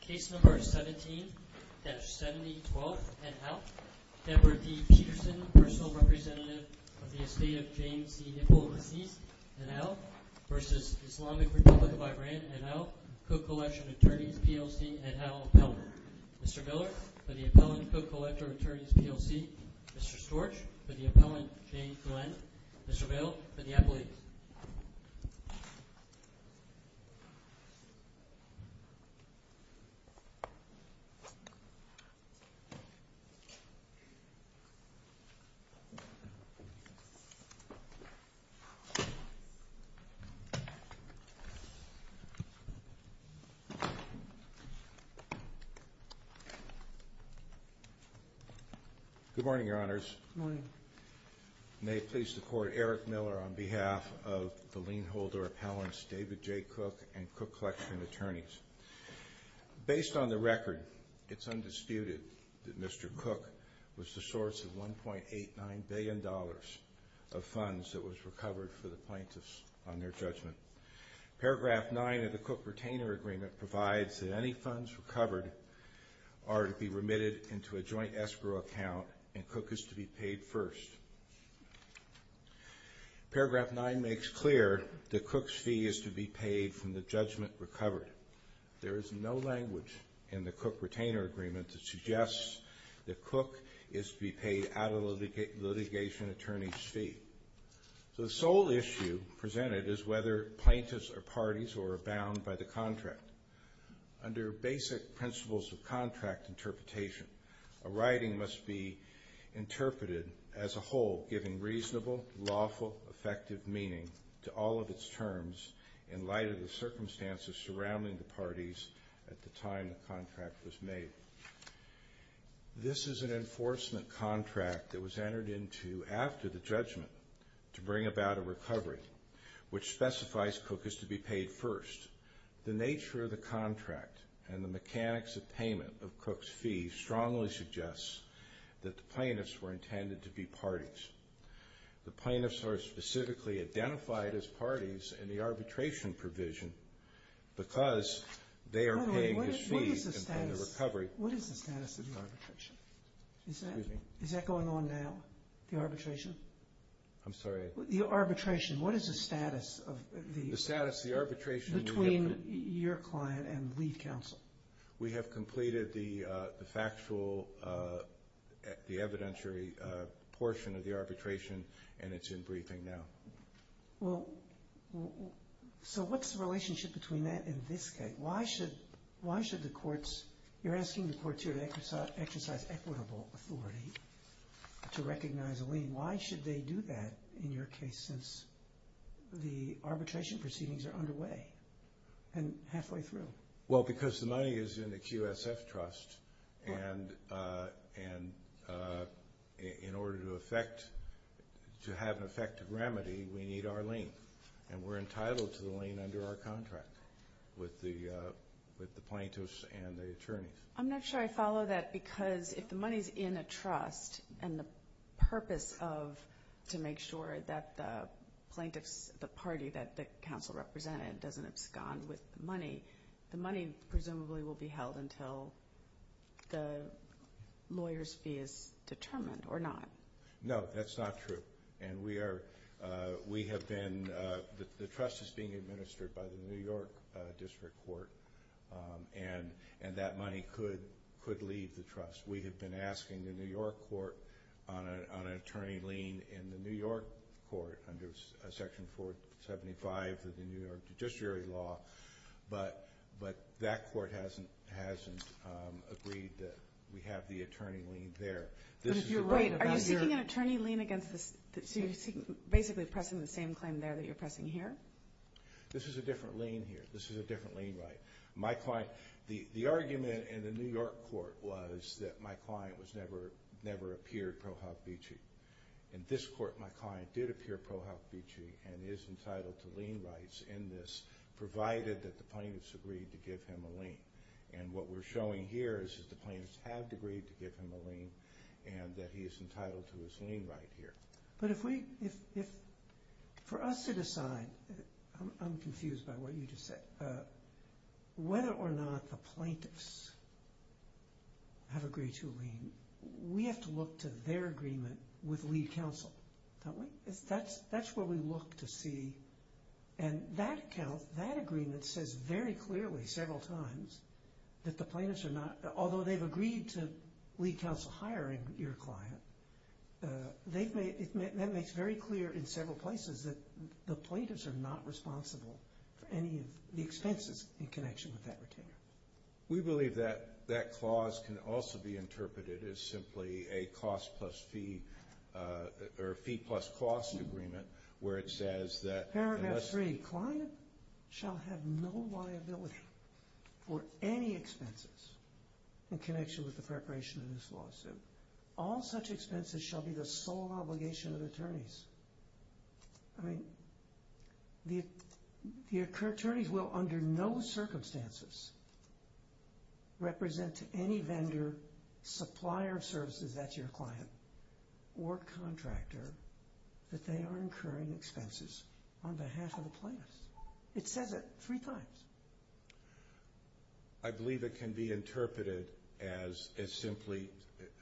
Case No. 17-7012, et al. Edward D. Peterson, personal representative of the estate of James C. Hipple, deceased, et al. v. Islamic Republic of Iran, et al. Co-Collection of Attorneys, PLC, et al., appellant. Mr. Miller, for the appellant, Co-Collector of Attorneys, PLC. Mr. Storch, for the appellant, James Glenn. Mr. Vail, for the appellate. Good morning, Your Honors. Good morning. May it please the Court, Eric Miller on behalf of the lien holder appellants, David J. Cooke and Cooke Collection of Attorneys. Based on the record, it's undisputed that Mr. Cooke was the source of $1.89 billion of funds that was recovered for the plaintiffs on their judgment. Paragraph 9 of the Cooke-Retainer Agreement provides that any funds recovered are to be remitted into a joint escrow account and Cooke is to be paid first. Paragraph 9 makes clear that Cooke's fee is to be paid from the judgment recovered. There is no language in the Cooke-Retainer Agreement that suggests that Cooke is to be paid out of the litigation attorney's fee. The sole issue presented is whether plaintiffs are parties or are bound by the contract. Under basic principles of contract interpretation, a writing must be interpreted as a whole, giving reasonable, lawful, effective meaning to all of its terms in light of the circumstances surrounding the parties at the time the contract was made. This is an enforcement contract that was entered into after the judgment to bring about a recovery, which specifies Cooke is to be paid first. The nature of the contract and the mechanics of payment of Cooke's fee strongly suggests that the plaintiffs were intended to be parties. The plaintiffs are specifically identified as parties in the arbitration provision because they are paying his fee in the recovery. What is the status of the arbitration? Excuse me. Is that going on now, the arbitration? I'm sorry? The arbitration, what is the status of the... The status of the arbitration... Between your client and lead counsel. We have completed the factual, the evidentiary portion of the arbitration, and it's in briefing now. Well, so what's the relationship between that and this case? Why should the courts, you're asking the court to exercise equitable authority to recognize a lien. Why should they do that in your case since the arbitration proceedings are underway and halfway through? Well, because the money is in the QSF trust, and in order to affect, to have an effective remedy, we need our lien. And we're entitled to the lien under our contract with the plaintiffs and the attorneys. I'm not sure I follow that because if the money is in a trust and the purpose of to make sure that the plaintiffs, the party that the counsel represented doesn't abscond with the money, the money presumably will be held until the lawyer's fee is determined or not. No, that's not true. And we are, we have been, the trust is being administered by the New York District Court, and that money could leave the trust. We have been asking the New York Court on an attorney lien in the New York Court under Section 475 of the New York Judiciary Law, but that court hasn't agreed that we have the attorney lien there. But if you're right about your- Are you seeking an attorney lien against the, so you're basically pressing the same claim there that you're pressing here? This is a different lien here. This is a different lien right. My client, the argument in the New York Court was that my client was never, never appeared pro hoc vici. In this court, my client did appear pro hoc vici and is entitled to lien rights in this, provided that the plaintiffs agreed to give him a lien. And what we're showing here is that the plaintiffs have agreed to give him a lien, and that he is entitled to his lien right here. But if we, if for us to decide, I'm confused by what you just said, whether or not the plaintiffs have agreed to a lien, we have to look to their agreement with lead counsel, don't we? That's where we look to see, and that account, that agreement says very clearly several times that the plaintiffs are not, although they've agreed to lead counsel hiring your client, they've made, that makes very clear in several places that the plaintiffs are not responsible for any of the expenses in connection with that retainer. We believe that that clause can also be interpreted as simply a cost plus fee, or fee plus cost agreement, where it says that. Paragraph three, client shall have no liability for any expenses in connection with the preparation of this lawsuit. All such expenses shall be the sole obligation of attorneys. I mean, the attorneys will under no circumstances represent to any vendor, supplier of services, that's your client, or contractor, that they are incurring expenses on behalf of the plaintiffs. It says it three times. I believe it can be interpreted as simply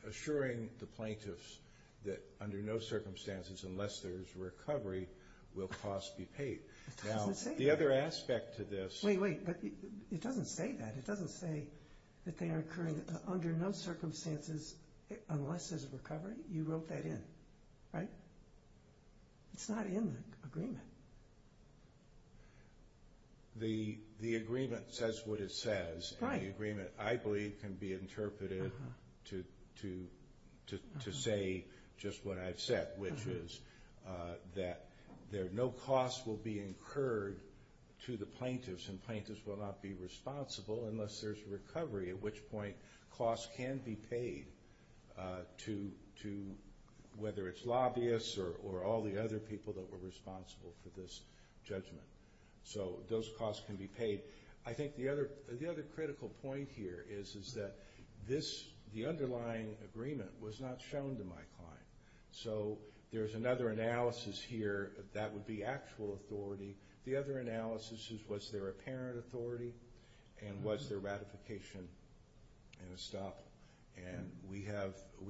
assuring the plaintiffs that under no circumstances, unless there's a recovery, will costs be paid. It doesn't say that. Now, the other aspect to this. Wait, wait, it doesn't say that. It doesn't say that they are incurring under no circumstances, unless there's a recovery. It's not in the agreement. The agreement says what it says. The agreement, I believe, can be interpreted to say just what I've said, which is that no costs will be incurred to the plaintiffs, and plaintiffs will not be responsible unless there's a recovery, at which point costs can be paid to whether it's lobbyists or all the other people that were responsible for this judgment. So those costs can be paid. I think the other critical point here is that the underlying agreement was not shown to my client. So there's another analysis here that would be actual authority. The other analysis is was there apparent authority and was there ratification and estoppel. We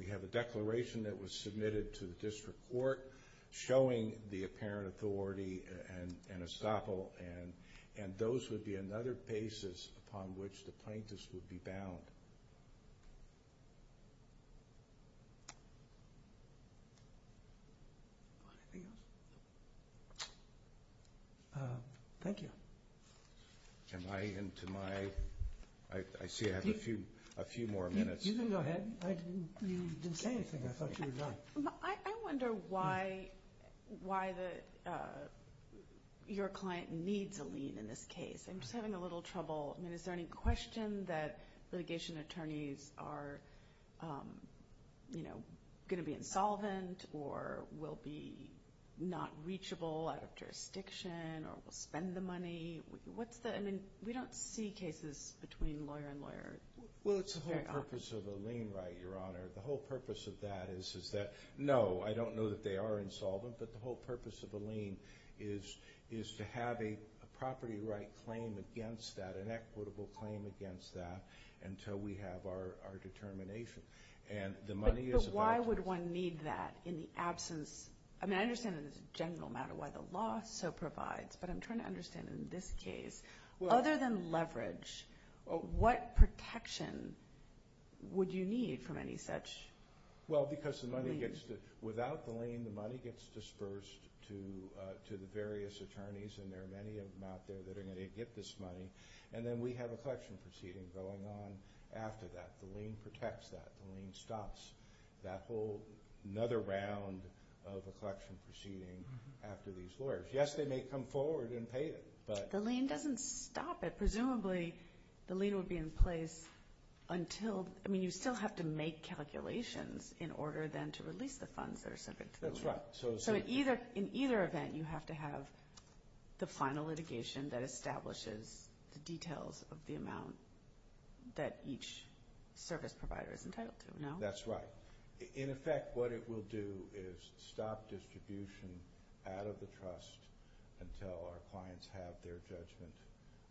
have a declaration that was submitted to the district court showing the apparent authority and estoppel, and those would be another basis upon which the plaintiffs would be bound. Thank you. Am I into my... I see I have a few more minutes. You can go ahead. You didn't say anything. I thought you were done. I wonder why your client needs a lien in this case. I'm just having a little trouble. Is there any question that litigation attorneys are going to be insolvent or will be not reachable out of jurisdiction or will spend the money? I mean, we don't see cases between lawyer and lawyer. Well, it's the whole purpose of a lien right, Your Honor. The whole purpose of that is that, no, I don't know that they are insolvent, but the whole purpose of a lien is to have a property right claim against that, an equitable claim against that until we have our determination. But why would one need that in the absence? I mean, I understand that it's a general matter why the law so provides, but I'm trying to understand in this case, other than leverage, what protection would you need from any such lien? Well, because without the lien, the money gets dispersed to the various attorneys, and there are many of them out there that are going to get this money, and then we have a collection proceeding going on after that. The lien protects that. The lien stops that whole another round of a collection proceeding after these lawyers. Yes, they may come forward and pay it, but— The lien doesn't stop it. Presumably, the lien would be in place until— I mean, you still have to make calculations in order then to release the funds that are subject to the lien. That's right. So in either event, you have to have the final litigation that establishes the details of the amount that each service provider is entitled to, no? That's right. In effect, what it will do is stop distribution out of the trust until our clients have their judgment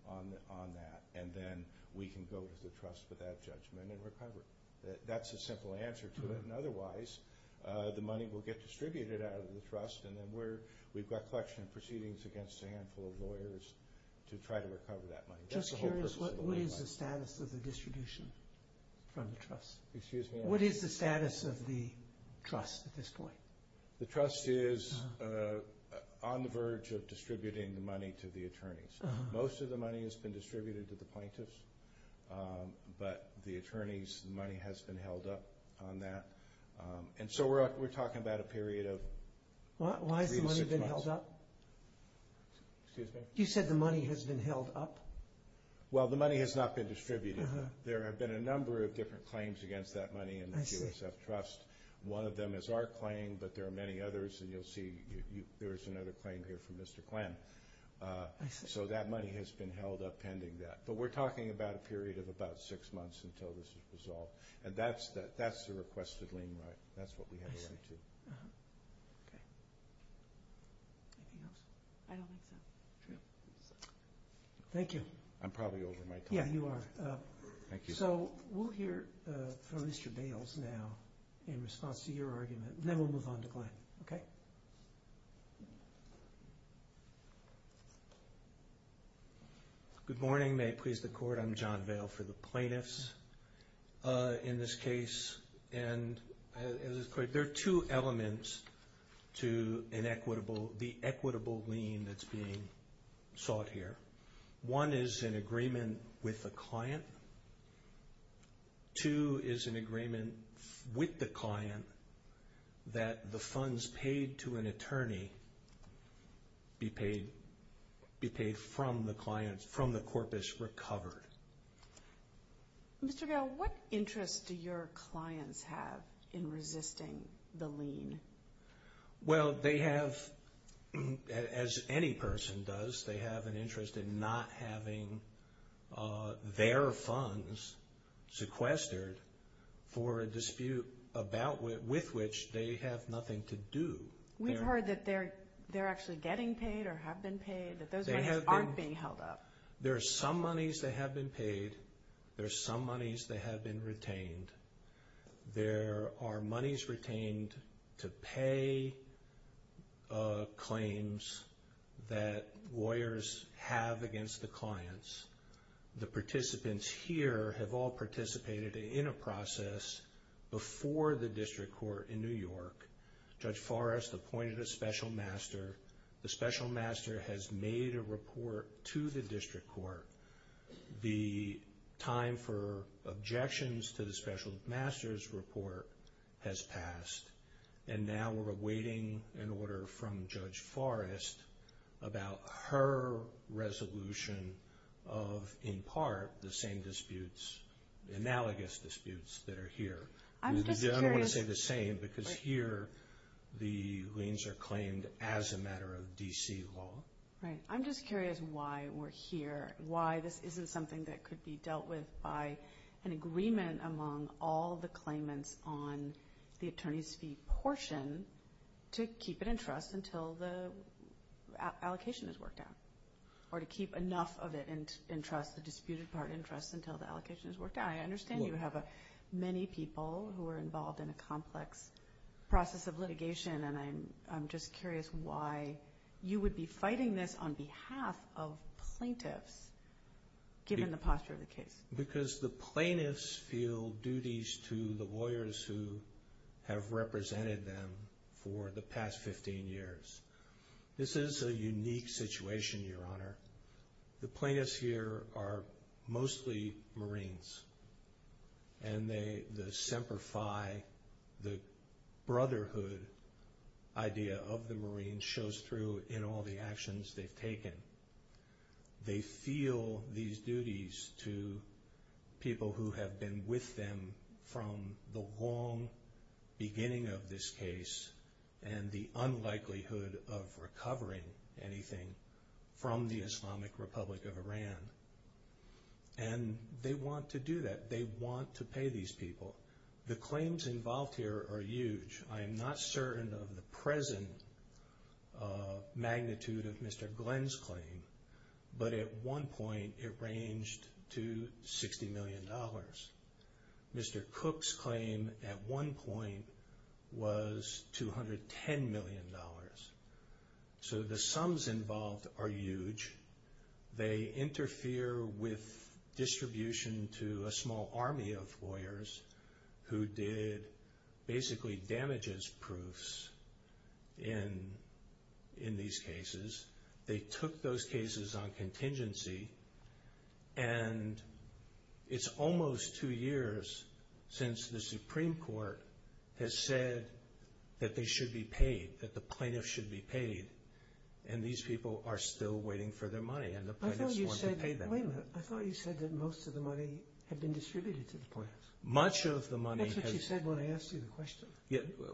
on that, and then we can go to the trust with that judgment and recover it. That's the simple answer to it. And otherwise, the money will get distributed out of the trust, and then we've got a collection of proceedings against a handful of lawyers to try to recover that money. Just curious, what is the status of the distribution from the trust? Excuse me? What is the status of the trust at this point? The trust is on the verge of distributing the money to the attorneys. Most of the money has been distributed to the plaintiffs, but the attorneys' money has been held up on that. And so we're talking about a period of three to six months. Why has the money been held up? Excuse me? You said the money has been held up? Well, the money has not been distributed. There have been a number of different claims against that money in the USF Trust. One of them is our claim, but there are many others, and you'll see there's another claim here from Mr. Klen. So that money has been held up pending that. But we're talking about a period of about six months until this is resolved. And that's the requested lien right. That's what we have a right to. Okay. Anything else? I don't think so. Okay. Thank you. I'm probably over my time. Yeah, you are. Thank you. So we'll hear from Mr. Bales now in response to your argument, and then we'll move on to Klen. Okay? Good morning. May it please the Court, I'm John Vale for the plaintiffs in this case. And there are two elements to the equitable lien that's being sought here. One is an agreement with the client. Two is an agreement with the client that the funds paid to an attorney be paid from the corpus recovered. Mr. Vale, what interest do your clients have in resisting the lien? Well, they have, as any person does, they have an interest in not having their funds sequestered for a dispute with which they have nothing to do. We've heard that they're actually getting paid or have been paid, that those monies aren't being held up. There are some monies that have been paid. There are some monies that have been retained. There are monies retained to pay claims that lawyers have against the clients. The participants here have all participated in a process before the district court in New York. Judge Forrest appointed a special master. The special master has made a report to the district court. The time for objections to the special master's report has passed. And now we're awaiting an order from Judge Forrest about her resolution of, in part, the same disputes, analogous disputes that are here. I don't want to say the same because here the liens are claimed as a matter of D.C. law. Right. I'm just curious why we're here, why this isn't something that could be dealt with by an agreement among all the claimants on the attorney's fee portion to keep it in trust until the allocation is worked out or to keep enough of it in trust, the disputed part in trust, until the allocation is worked out. I understand you have many people who are involved in a complex process of litigation, and I'm just curious why you would be fighting this on behalf of plaintiffs given the posture of the case. Because the plaintiffs feel duties to the lawyers who have represented them for the past 15 years. This is a unique situation, Your Honor. The plaintiffs here are mostly Marines, and the Semper Fi, the brotherhood idea of the Marines shows through in all the actions they've taken. They feel these duties to people who have been with them from the long beginning of this case and the unlikelihood of recovering anything from the Islamic Republic of Iran. And they want to do that. They want to pay these people. The claims involved here are huge. I am not certain of the present magnitude of Mr. Glenn's claim, but at one point it ranged to $60 million. Mr. Cook's claim at one point was $210 million. So the sums involved are huge. They interfere with distribution to a small army of lawyers who did basically damages proofs in these cases. They took those cases on contingency, and it's almost two years since the Supreme Court has said that they should be paid, that the plaintiffs should be paid, and these people are still waiting for their money, and the plaintiffs want to pay them. I thought you said that most of the money had been distributed to the plaintiffs. Much of the money has... That's what you said when I asked you the question.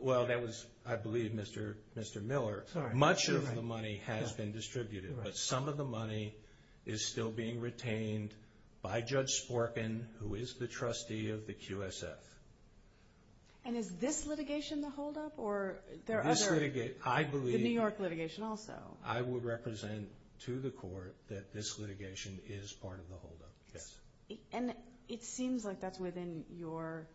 Well, that was, I believe, Mr. Miller. Much of the money has been distributed, but some of the money is still being retained by Judge Sporkin, who is the trustee of the QSF. And is this litigation the holdup, or there are other... This litigation, I believe... The New York litigation also. I would represent to the court that this litigation is part of the holdup, yes. And it seems like that's within your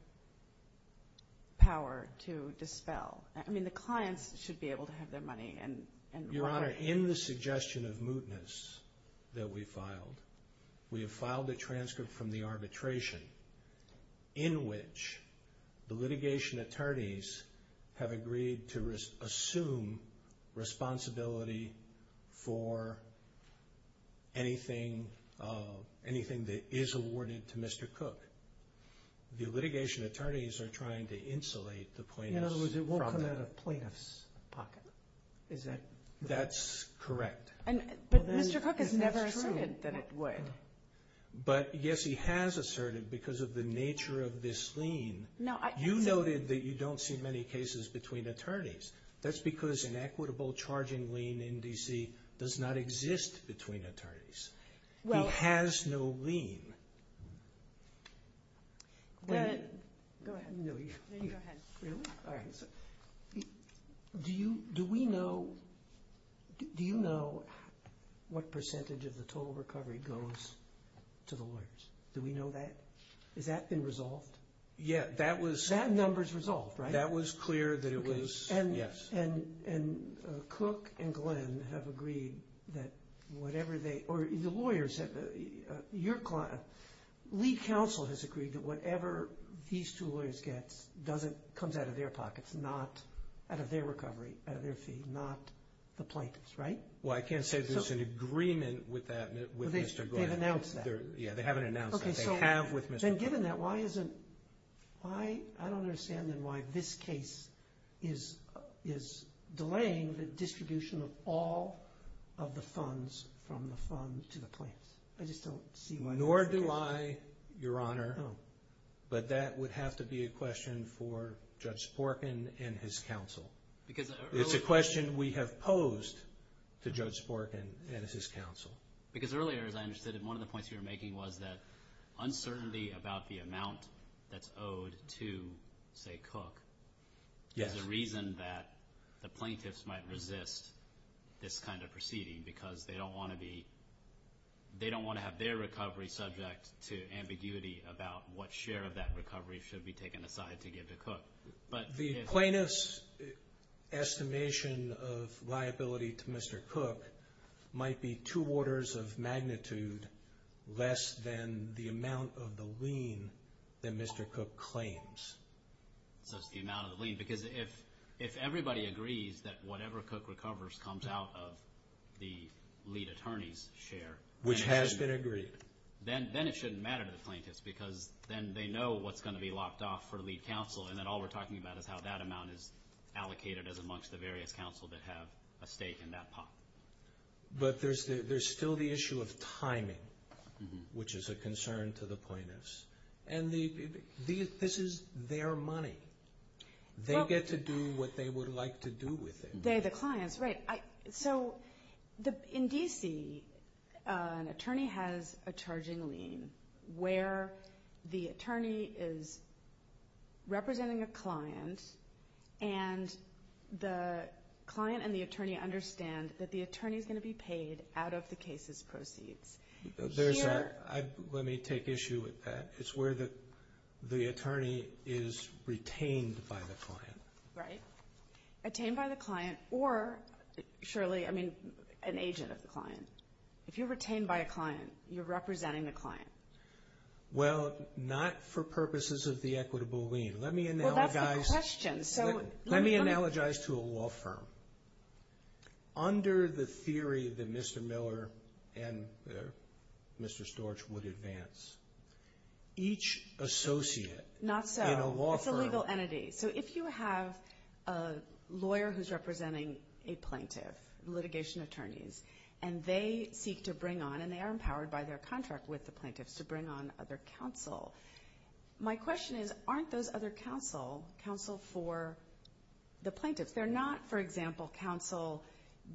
power to dispel. I mean, the clients should be able to have their money. Your Honor, in the suggestion of mootness that we filed, we have filed a transcript from the arbitration in which the litigation attorneys have agreed to assume responsibility for anything that is awarded to Mr. Cook. The litigation attorneys are trying to insulate the plaintiffs. In other words, it won't come out of plaintiffs' pocket, is it? That's correct. But Mr. Cook has never asserted that it would. But, yes, he has asserted because of the nature of this lien. You noted that you don't see many cases between attorneys. That's because an equitable charging lien in D.C. does not exist between attorneys. He has no lien. Go ahead. Really? All right. Do you know what percentage of the total recovery goes to the lawyers? Do we know that? Has that been resolved? Yeah. That number is resolved, right? That was clear that it was, yes. And Cook and Glenn have agreed that whatever they or the lawyers have, your client, Lee Counsel has agreed that whatever these two lawyers get comes out of their pockets, not out of their recovery, out of their fee, not the plaintiff's, right? Well, I can't say that there's an agreement with Mr. Glenn. They've announced that. Yeah, they haven't announced that. They have with Mr. Cook. Then given that, I don't understand then why this case is delaying the distribution of all of the funds from the fund to the plaintiffs. I just don't see why that's the case. Nor do I, Your Honor. But that would have to be a question for Judge Sporkin and his counsel. It's a question we have posed to Judge Sporkin and his counsel. Because earlier, as I understood it, one of the points you were making was that uncertainty about the amount that's owed to, say, Cook, is a reason that the plaintiffs might resist this kind of proceeding because they don't want to have their recovery subject to ambiguity about what share of that recovery should be taken aside to give to Cook. The plaintiff's estimation of liability to Mr. Cook might be two orders of magnitude less than the amount of the lien that Mr. Cook claims. So it's the amount of the lien. Because if everybody agrees that whatever Cook recovers comes out of the lead attorney's share. Which has been agreed. Then it shouldn't matter to the plaintiffs because then they know what's going to be locked off for the lead counsel and then all we're talking about is how that amount is allocated as amongst the various counsel that have a stake in that pot. But there's still the issue of timing, which is a concern to the plaintiffs. And this is their money. They get to do what they would like to do with it. They're the clients. Right. So in D.C., an attorney has a charging lien where the attorney is representing a client and the client and the attorney understand that the attorney is going to be paid out of the case's proceeds. Let me take issue with that. It's where the attorney is retained by the client. Right. Retained by the client or surely, I mean, an agent of the client. If you're retained by a client, you're representing the client. Well, not for purposes of the equitable lien. Let me analogize. Well, that's the question. Let me analogize to a law firm. Under the theory that Mr. Miller and Mr. Storch would advance, each associate in a law firm. Not so. It's a legal entity. So if you have a lawyer who's representing a plaintiff, litigation attorneys, and they seek to bring on and they are empowered by their contract with the plaintiffs to bring on other counsel, my question is aren't those other counsel counsel for the plaintiffs? They're not, for example, counsel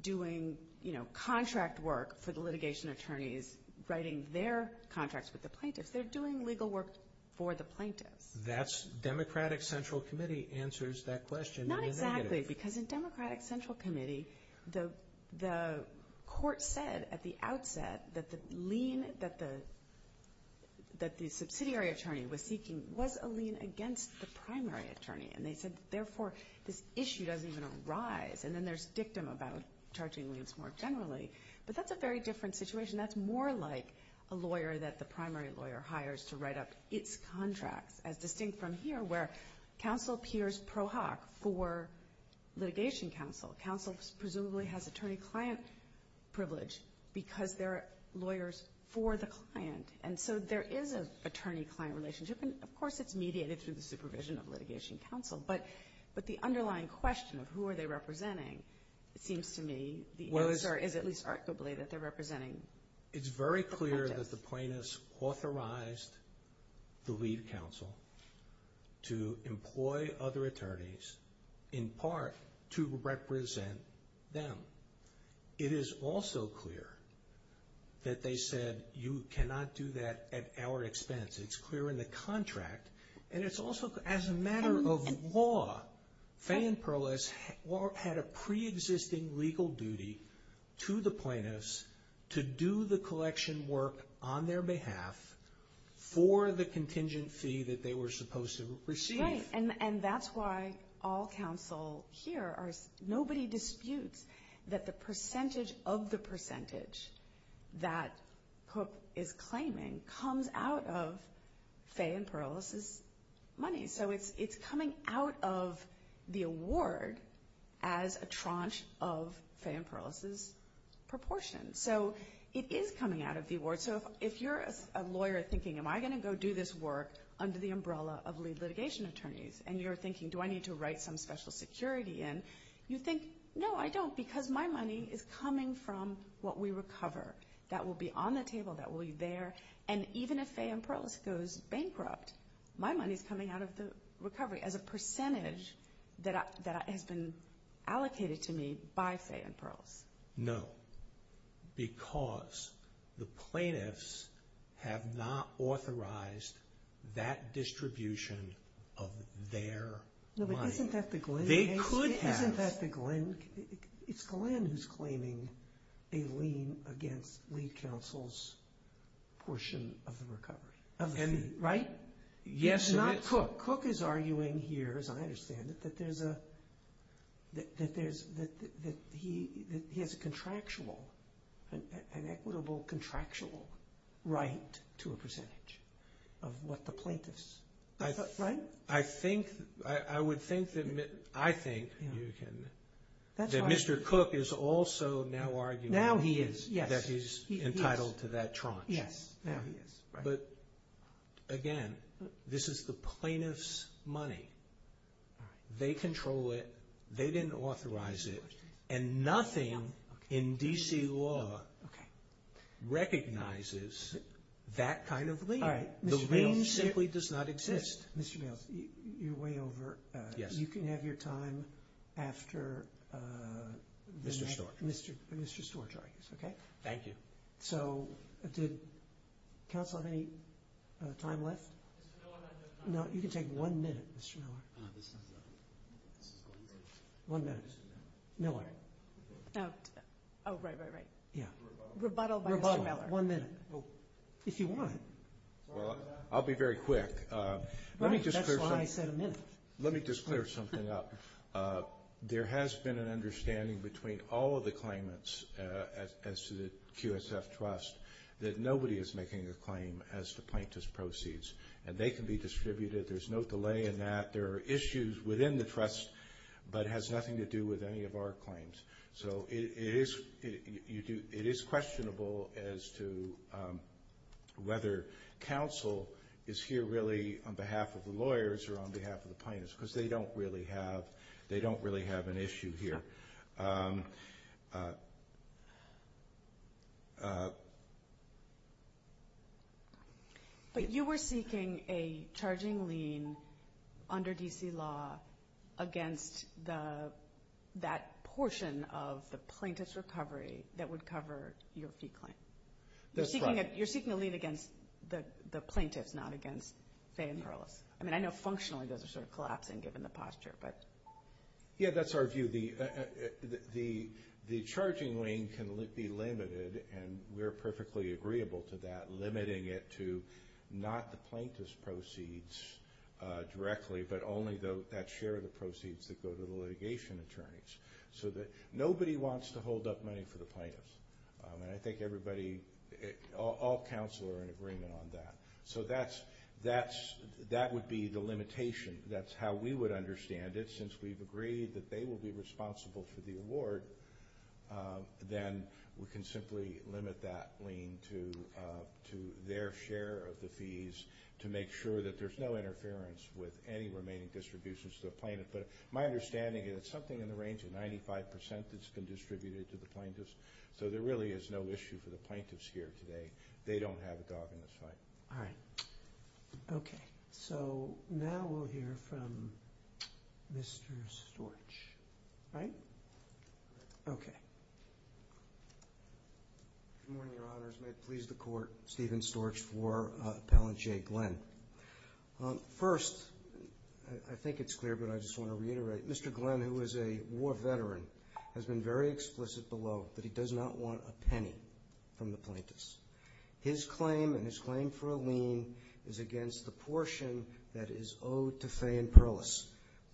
doing, you know, contract work for the litigation attorneys writing their contracts with the plaintiffs. They're doing legal work for the plaintiffs. That's Democratic Central Committee answers that question. Not exactly, because in Democratic Central Committee, the court said at the outset that the lien that the subsidiary attorney was seeking was a lien against the primary attorney. And they said, therefore, this issue doesn't even arise. And then there's dictum about charging liens more generally. But that's a very different situation. That's more like a lawyer that the primary lawyer hires to write up its contracts, as distinct from here where counsel peers pro hoc for litigation counsel. Counsel presumably has attorney-client privilege because they're lawyers for the client. And so there is an attorney-client relationship. And, of course, it's mediated through the supervision of litigation counsel. But the underlying question of who are they representing, it seems to me, is at least arguably that they're representing the plaintiffs. It's very clear that the plaintiffs authorized the lead counsel to employ other attorneys, in part, to represent them. It is also clear that they said you cannot do that at our expense. It's clear in the contract. And it's also, as a matter of law, Fay and Perlis had a preexisting legal duty to the plaintiffs to do the collection work on their behalf for the contingent fee that they were supposed to receive. Right. And that's why all counsel here, nobody disputes that the percentage of the percentage that Cook is claiming comes out of Fay and Perlis's money. So it's coming out of the award as a tranche of Fay and Perlis's proportion. So it is coming out of the award. So if you're a lawyer thinking, am I going to go do this work under the umbrella of lead litigation attorneys, and you're thinking, do I need to write some special security in, you think, no, I don't, because my money is coming from what we recover. That will be on the table. That will be there. And even if Fay and Perlis goes bankrupt, my money is coming out of the recovery as a percentage that has been allocated to me by Fay and Perlis. No, because the plaintiffs have not authorized that distribution of their money. No, but isn't that the Glen? They could have. Isn't that the Glen? It's Glen who's claiming a lien against lead counsel's portion of the recovery, of the fee, right? Yes. Cook is arguing here, as I understand it, that there's a, that he has a contractual, an equitable contractual right to a percentage of what the plaintiffs, right? I think, I would think that, I think you can, that Mr. Cook is also now arguing. Now he is, yes. That he's entitled to that tranche. Yes, now he is. But, again, this is the plaintiff's money. They control it. They didn't authorize it. And nothing in D.C. law recognizes that kind of lien. The lien simply does not exist. Mr. Mills, you're way over. Yes. You can have your time after the next. Mr. Storch. Mr. Storch argues, okay? Thank you. So did counsel have any time left? No, you can take one minute, Mr. Miller. Miller. Oh, right, right, right. Yeah. Rebuttal. Rebuttal by Mr. Miller. One minute. If you want. Well, I'll be very quick. Right. That's why I said a minute. Let me just clear something up. There has been an understanding between all of the claimants as to the QSF trust that nobody is making a claim as to plaintiff's proceeds. And they can be distributed. There's no delay in that. There are issues within the trust, but it has nothing to do with any of our claims. So it is questionable as to whether counsel is here really on behalf of the lawyers or on behalf of the plaintiffs, because they don't really have an issue here. But you were seeking a charging lien under D.C. law against that portion of the plaintiff's recovery that would cover your fee claim. That's right. You're seeking a lien against the plaintiffs, not against Fay and Perlis. I mean, I know functionally those are sort of collapsing given the posture, but. Yeah, that's our view. The charging lien can be limited, and we're perfectly agreeable to that, limiting it to not the plaintiff's proceeds directly, but only that share of the proceeds that go to the litigation attorneys. So nobody wants to hold up money for the plaintiffs. And I think everybody, all counsel are in agreement on that. So that would be the limitation. That's how we would understand it. Since we've agreed that they will be responsible for the award, then we can simply limit that lien to their share of the fees to make sure that there's no interference with any remaining distributions to the plaintiff. But my understanding is it's something in the range of 95% that's been distributed to the plaintiffs. So there really is no issue for the plaintiffs here today. They don't have a dog in this fight. All right. Okay. So now we'll hear from Mr. Storch, right? Good morning, Your Honors. May it please the Court, Stephen Storch for Appellant Jay Glenn. First, I think it's clear, but I just want to reiterate, Mr. Glenn, who is a war veteran, has been very explicit below that he does not want a penny from the plaintiffs. His claim and his claim for a lien is against the portion that is owed to Fay and Perlis.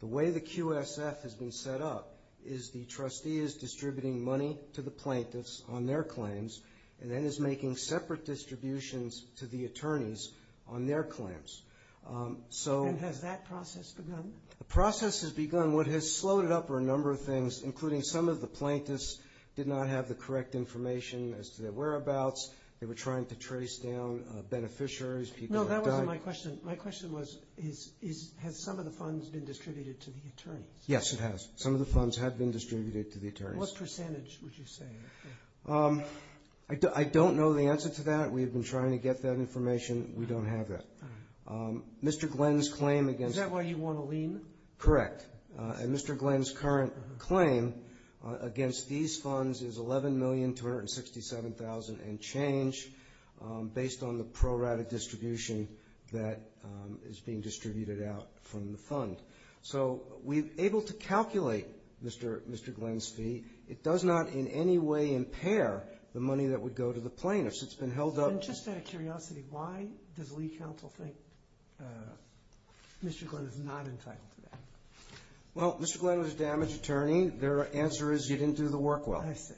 The way the QSF has been set up is the trustee is distributing money to the plaintiffs on their claims and then is making separate distributions to the attorneys on their claims. And has that process begun? The process has begun. What has slowed it up are a number of things, including some of the plaintiffs did not have the correct information as to their whereabouts. They were trying to trace down beneficiaries. No, that wasn't my question. My question was has some of the funds been distributed to the attorneys? Yes, it has. Some of the funds have been distributed to the attorneys. What percentage would you say? I don't know the answer to that. We have been trying to get that information. We don't have that. Mr. Glenn's claim against Is that why you want a lien? Correct. And Mr. Glenn's current claim against these funds is $11,267,000 and change based on the pro rata distribution that is being distributed out from the fund. So we are able to calculate Mr. Glenn's fee. It does not in any way impair the money that would go to the plaintiffs. And just out of curiosity, why does the lead counsel think Mr. Glenn is not entitled to that? Well, Mr. Glenn was a damaged attorney. Their answer is you didn't do the work well. I see.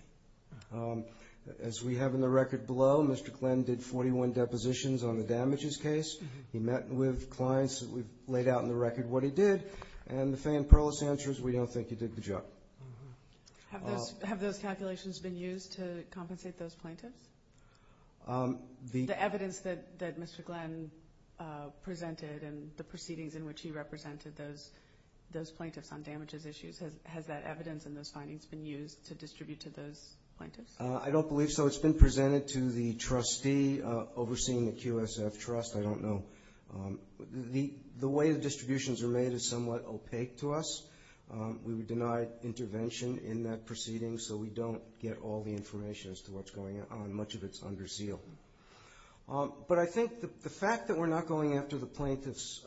As we have in the record below, Mr. Glenn did 41 depositions on the damages case. He met with clients. We've laid out in the record what he did. And the Fey and Perlis answer is we don't think he did the job. Have those calculations been used to compensate those plaintiffs? The evidence that Mr. Glenn presented and the proceedings in which he represented those plaintiffs on damages issues, has that evidence and those findings been used to distribute to those plaintiffs? I don't believe so. It's been presented to the trustee overseeing the QSF trust. I don't know. The way the distributions are made is somewhat opaque to us. We would deny intervention in that proceeding so we don't get all the information as to what's going on. Much of it is under seal. But I think the fact that we're not going after the plaintiff's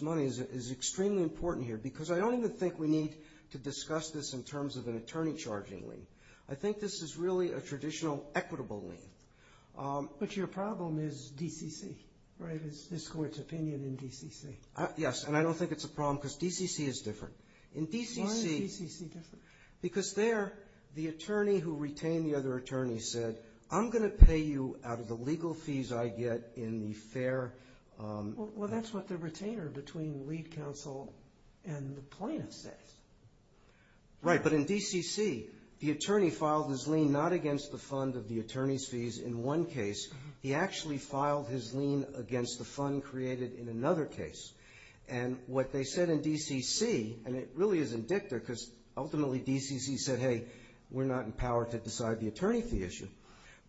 money is extremely important here because I don't even think we need to discuss this in terms of an attorney charging lien. I think this is really a traditional equitable lien. But your problem is DCC, right? It's this court's opinion in DCC. Yes, and I don't think it's a problem because DCC is different. Why is DCC different? Because there, the attorney who retained the other attorney said, I'm going to pay you out of the legal fees I get in the fair. Well, that's what the retainer between the lead counsel and the plaintiff says. Right. But in DCC, the attorney filed his lien not against the fund of the attorney's fees in one case. He actually filed his lien against the fund created in another case. And what they said in DCC, and it really is indictor because ultimately DCC said, hey, we're not empowered to decide the attorney fee issue.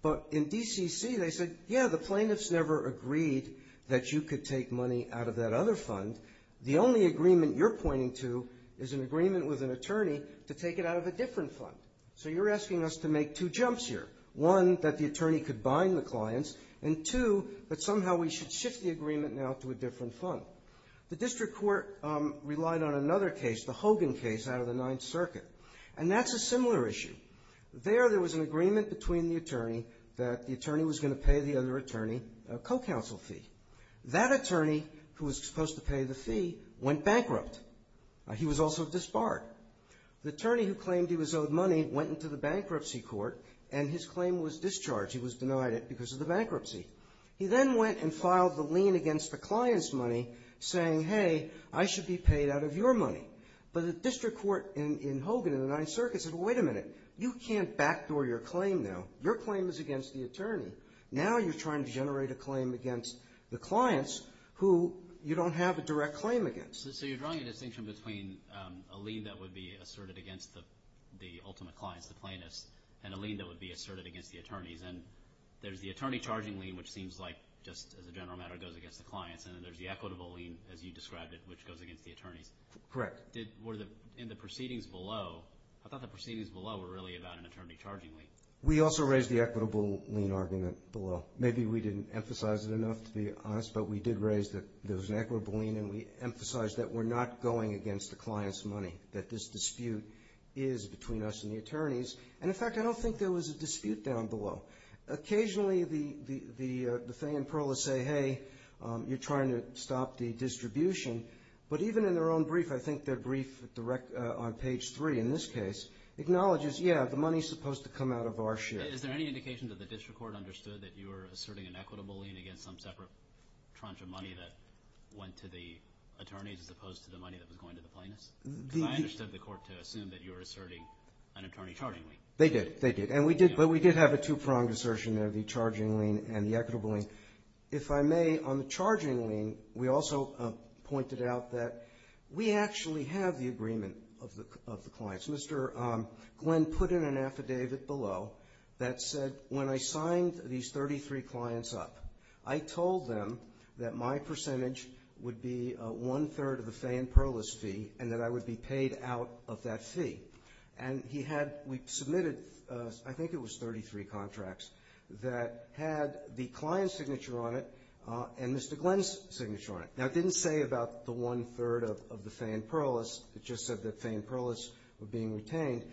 But in DCC, they said, yeah, the plaintiff's never agreed that you could take money out of that other fund. The only agreement you're pointing to is an agreement with an attorney to take it out of a different fund. So you're asking us to make two jumps here. One, that the attorney could bind the clients. And two, that somehow we should shift the agreement now to a different fund. The district court relied on another case, the Hogan case out of the Ninth Circuit. And that's a similar issue. There, there was an agreement between the attorney that the attorney was going to pay the other attorney a co-counsel fee. That attorney, who was supposed to pay the fee, went bankrupt. He was also disbarred. The attorney who claimed he was owed money went into the bankruptcy court and his claim was discharged. He was denied it because of the bankruptcy. He then went and filed the lien against the client's money saying, hey, I should be paid out of your money. But the district court in Hogan in the Ninth Circuit said, wait a minute, you can't backdoor your claim now. Your claim is against the attorney. Now you're trying to generate a claim against the clients who you don't have a direct claim against. So you're drawing a distinction between a lien that would be asserted against the ultimate clients, the plaintiffs, and a lien that would be asserted against the attorneys. And there's the attorney charging lien, which seems like, just as a general matter, goes against the clients. And then there's the equitable lien, as you described it, which goes against the attorneys. Correct. In the proceedings below, I thought the proceedings below were really about an attorney charging lien. We also raised the equitable lien argument below. Maybe we didn't emphasize it enough, to be honest. But we did raise that there was an equitable lien, and we emphasized that we're not going against the client's money, that this dispute is between us and the attorneys. And, in fact, I don't think there was a dispute down below. Occasionally the thing and pearl is say, hey, you're trying to stop the distribution. But even in their own brief, I think their brief on page 3 in this case, acknowledges, yeah, the money is supposed to come out of our share. Is there any indication that the district court understood that you were asserting an equitable lien against some separate tranche of money that went to the attorneys as opposed to the money that was going to the plaintiffs? Because I understood the court to assume that you were asserting an attorney charging lien. They did. They did. But we did have a two-pronged assertion there, the charging lien and the equitable lien. If I may, on the charging lien, we also pointed out that we actually have the agreement of the clients. Mr. Glenn put in an affidavit below that said when I signed these 33 clients up, I told them that my percentage would be one-third of the Fay and Perlis fee and that I would be paid out of that fee. And he had we submitted, I think it was 33 contracts, that had the client's signature on it and Mr. Glenn's signature on it. Now, it didn't say about the one-third of the Fay and Perlis. It just said that Fay and Perlis were being retained.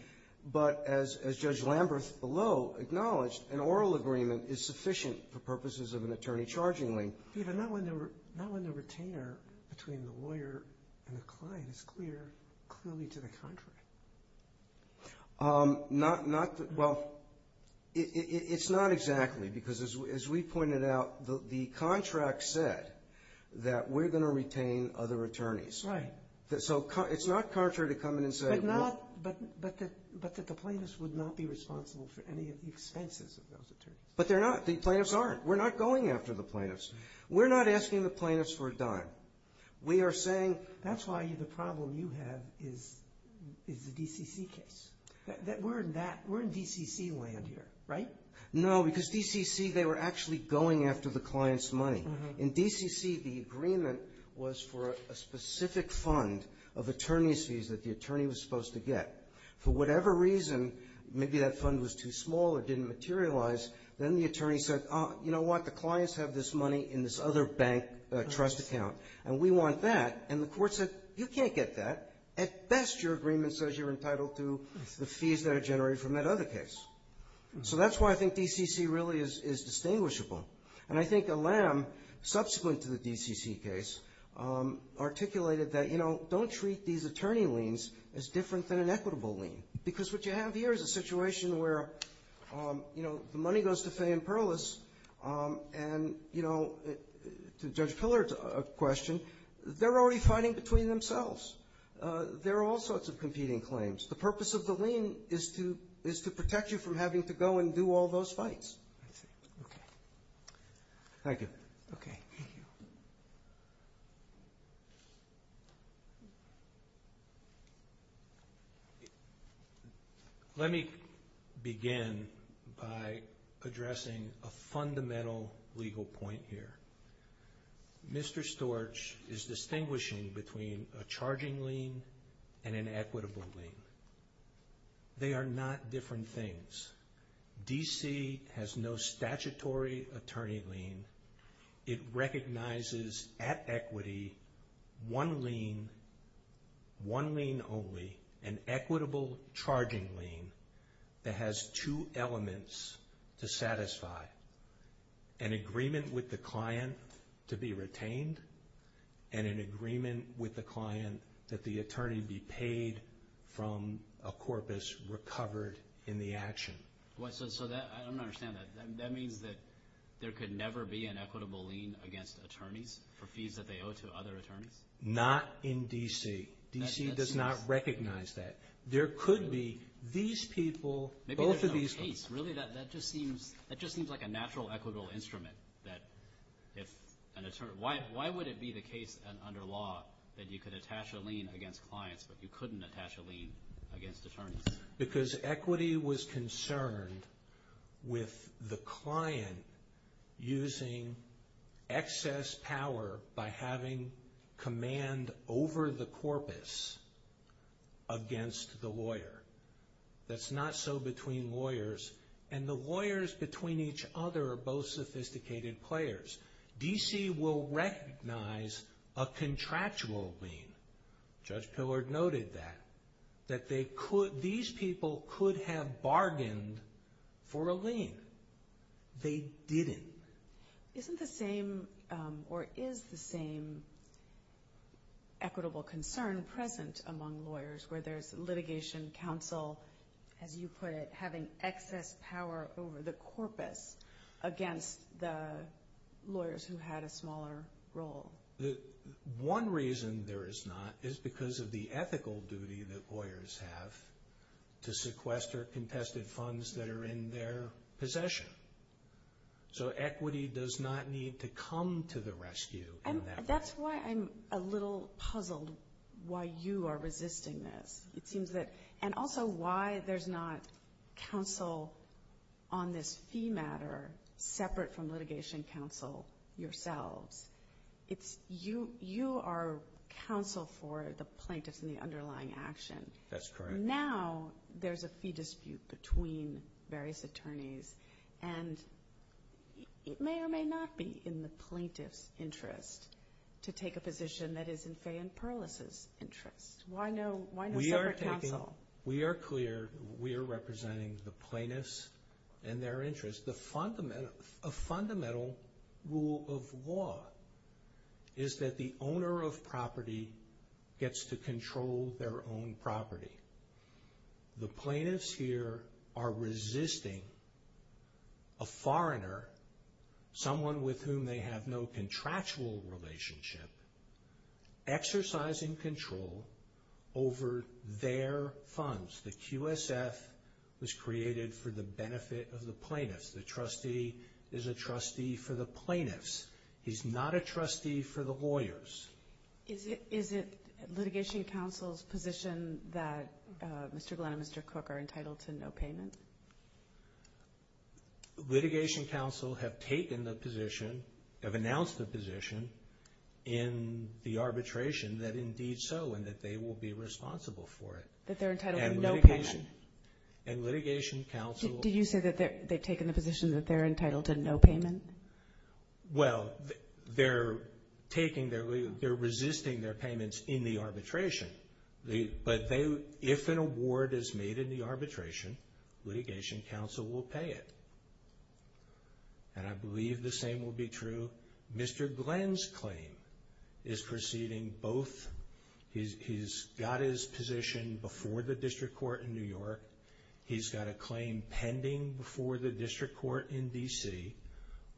But as Judge Lamberth below acknowledged, an oral agreement is sufficient for purposes of an attorney charging lien. Peter, not when the retainer between the lawyer and the client is clear, clearly to the contract. Well, it's not exactly because as we pointed out, the contract said that we're going to retain other attorneys. Okay. So it's not contrary to come in and say. But that the plaintiffs would not be responsible for any of the expenses of those attorneys. But they're not. The plaintiffs aren't. We're not going after the plaintiffs. We're not asking the plaintiffs for a dime. We are saying. That's why the problem you have is the DCC case. We're in DCC land here, right? No, because DCC, they were actually going after the client's money. In DCC, the agreement was for a specific fund of attorney's fees that the attorney was supposed to get. For whatever reason, maybe that fund was too small or didn't materialize, then the attorney said, oh, you know what? The clients have this money in this other bank trust account, and we want that. And the Court said, you can't get that. At best, your agreement says you're entitled to the fees that are generated from that other case. So that's why I think DCC really is distinguishable. And I think Alam, subsequent to the DCC case, articulated that, you know, don't treat these attorney liens as different than an equitable lien. Because what you have here is a situation where, you know, the money goes to Fay and Perlis, and, you know, to Judge Pillard's question, they're already fighting between themselves. There are all sorts of competing claims. The purpose of the lien is to protect you from having to go and do all those fights. That's it. Okay. Thank you. Okay. Thank you. Let me begin by addressing a fundamental legal point here. Mr. Storch is distinguishing between a charging lien and an equitable lien. They are not different things. DC has no statutory attorney lien. It recognizes at equity one lien, one lien only, an equitable charging lien that has two elements to satisfy. An agreement with the client to be retained and an agreement with the client that the attorney be paid from a corpus recovered in the action. So I don't understand that. That means that there could never be an equitable lien against attorneys for fees that they owe to other attorneys? Not in DC. DC does not recognize that. There could be. These people, both of these people. Maybe there's no case. Really, that just seems like a natural equitable instrument. Why would it be the case under law that you could attach a lien against clients but you couldn't attach a lien against attorneys? Because equity was concerned with the client using excess power by having command over the corpus against the lawyer. That's not so between lawyers. And the lawyers between each other are both sophisticated players. DC will recognize a contractual lien. Judge Pillard noted that. That these people could have bargained for a lien. They didn't. Isn't the same or is the same equitable concern present among lawyers where there's litigation, counsel, as you put it, having excess power over the corpus against the lawyers who had a smaller role? One reason there is not is because of the ethical duty that lawyers have to sequester contested funds that are in their possession. So equity does not need to come to the rescue in that way. That's why I'm a little puzzled why you are resisting this. And also why there's not counsel on this fee matter separate from litigation counsel yourselves. You are counsel for the plaintiffs in the underlying action. That's correct. Now there's a fee dispute between various attorneys. And it may or may not be in the plaintiff's interest to take a position that is in Fay and Perlis's interest. Why no separate counsel? We are clear we are representing the plaintiffs and their interests. A fundamental rule of law is that the owner of property gets to control their own property. The plaintiffs here are resisting a foreigner, someone with whom they have no contractual relationship, exercising control over their funds. The QSF was created for the benefit of the plaintiffs. The trustee is a trustee for the plaintiffs. He's not a trustee for the lawyers. Is it litigation counsel's position that Mr. Glenn and Mr. Cook are entitled to no payment? Litigation counsel have taken the position, have announced the position in the arbitration that indeed so, and that they will be responsible for it. That they're entitled to no payment? And litigation counsel... Did you say that they've taken the position that they're entitled to no payment? Well, they're resisting their payments in the arbitration. But if an award is made in the arbitration, litigation counsel will pay it. And I believe the same will be true. Mr. Glenn's claim is proceeding both... He's got his position before the district court in New York. He's got a claim pending before the district court in D.C.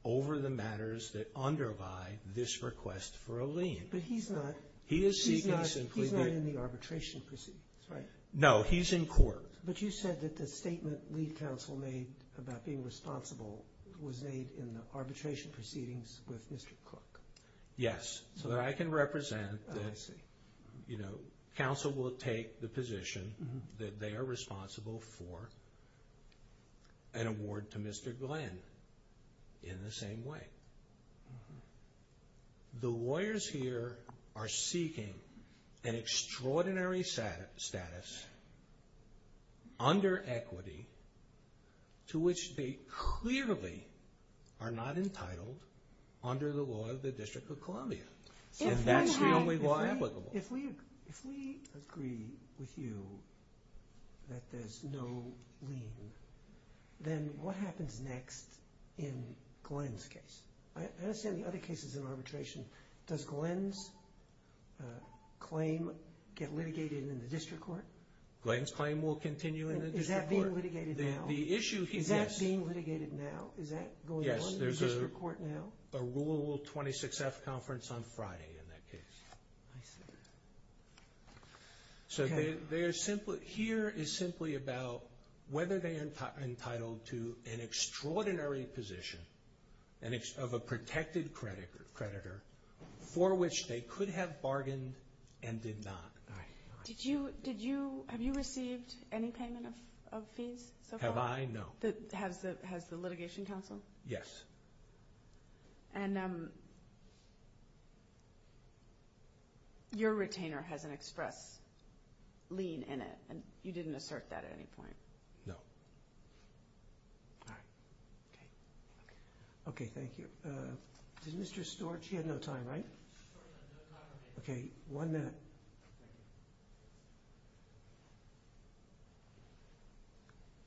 over the matters that underlie this request for a lien. But he's not... He's not in the arbitration proceedings, right? No, he's in court. But you said that the statement lead counsel made about being responsible was made in the arbitration proceedings with Mr. Cook. Yes. So that I can represent that, you know, counsel will take the position that they are responsible for an award to Mr. Glenn in the same way. The lawyers here are seeking an extraordinary status under equity to which they clearly are not entitled under the law of the District of Columbia. And that's the only law applicable. If we agree with you that there's no lien, then what happens next in Glenn's case? I understand the other cases in arbitration. Does Glenn's claim get litigated in the district court? Glenn's claim will continue in the district court. Is that being litigated now? The issue, yes. Is that being litigated now? Is that going on in the district court now? Yes, there's a Rule 26F conference on Friday in that case. I see. So here is simply about whether they are entitled to an extraordinary position of a protected creditor for which they could have bargained and did not. Have you received any payment of fees so far? Have I? No. Has the litigation counsel? Yes. And your retainer has an express lien in it, and you didn't assert that at any point? No. All right. Okay. Okay, thank you. Did Mr. Storch? He had no time, right? Okay, one minute.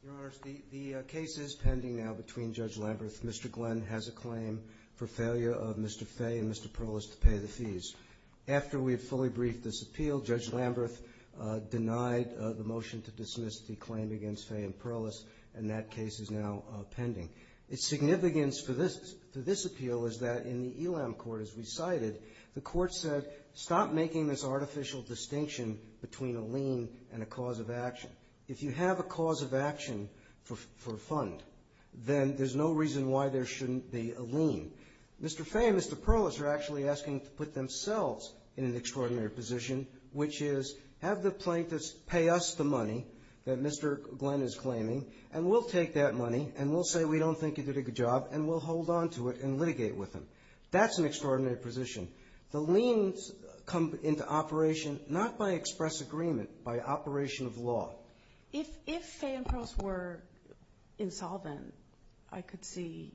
Your Honors, the case is pending now between Judge Lamberth, Mr. Glenn has a claim for failure of Mr. Fay and Mr. Perlis to pay the fees. After we had fully briefed this appeal, Judge Lamberth denied the motion to dismiss the claim against Fay and Perlis, and that case is now pending. Its significance for this appeal is that in the ELAM court, as we cited, the court said, stop making this artificial distinction between a lien and a cause of action. If you have a cause of action for a fund, then there's no reason why there shouldn't be a lien. Mr. Fay and Mr. Perlis are actually asking to put themselves in an extraordinary position, which is have the plaintiffs pay us the money that Mr. Glenn is claiming, and we'll take that money, and we'll say we don't think you did a good job, and we'll hold on to it and litigate with them. That's an extraordinary position. The liens come into operation not by express agreement, by operation of law. If Fay and Perlis were insolvent, I could see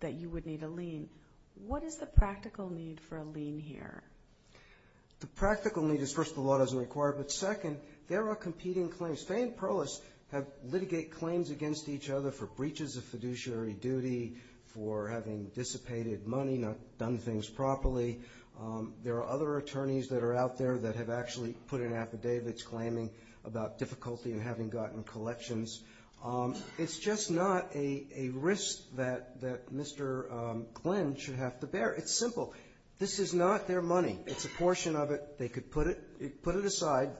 that you would need a lien. What is the practical need for a lien here? The practical need is, first, the law doesn't require it, but, second, there are competing claims. Fay and Perlis have litigated claims against each other for breaches of fiduciary duty, for having dissipated money, not done things properly. There are other attorneys that are out there that have actually put in affidavits claiming about difficulty in having gotten collections. It's just not a risk that Mr. Glenn should have to bear. It's simple. This is not their money. It's a portion of it. They could put it aside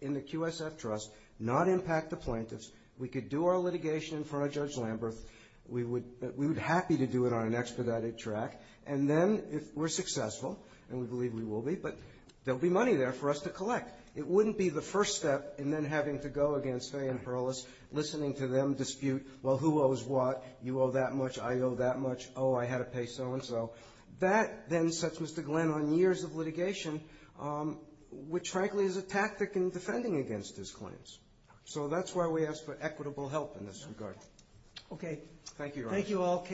in the QSF Trust, not impact the plaintiffs. We could do our litigation in front of Judge Lamberth. We would be happy to do it on an expedited track. And then, if we're successful, and we believe we will be, but there will be money there for us to collect. It wouldn't be the first step and then having to go against Fay and Perlis, listening to them dispute, well, who owes what, you owe that much, I owe that much, oh, I had to pay so-and-so. That then sets Mr. Glenn on years of litigation, which frankly is a tactic in defending against his claims. So that's why we ask for equitable help in this regard. Okay. Thank you. Thank you all.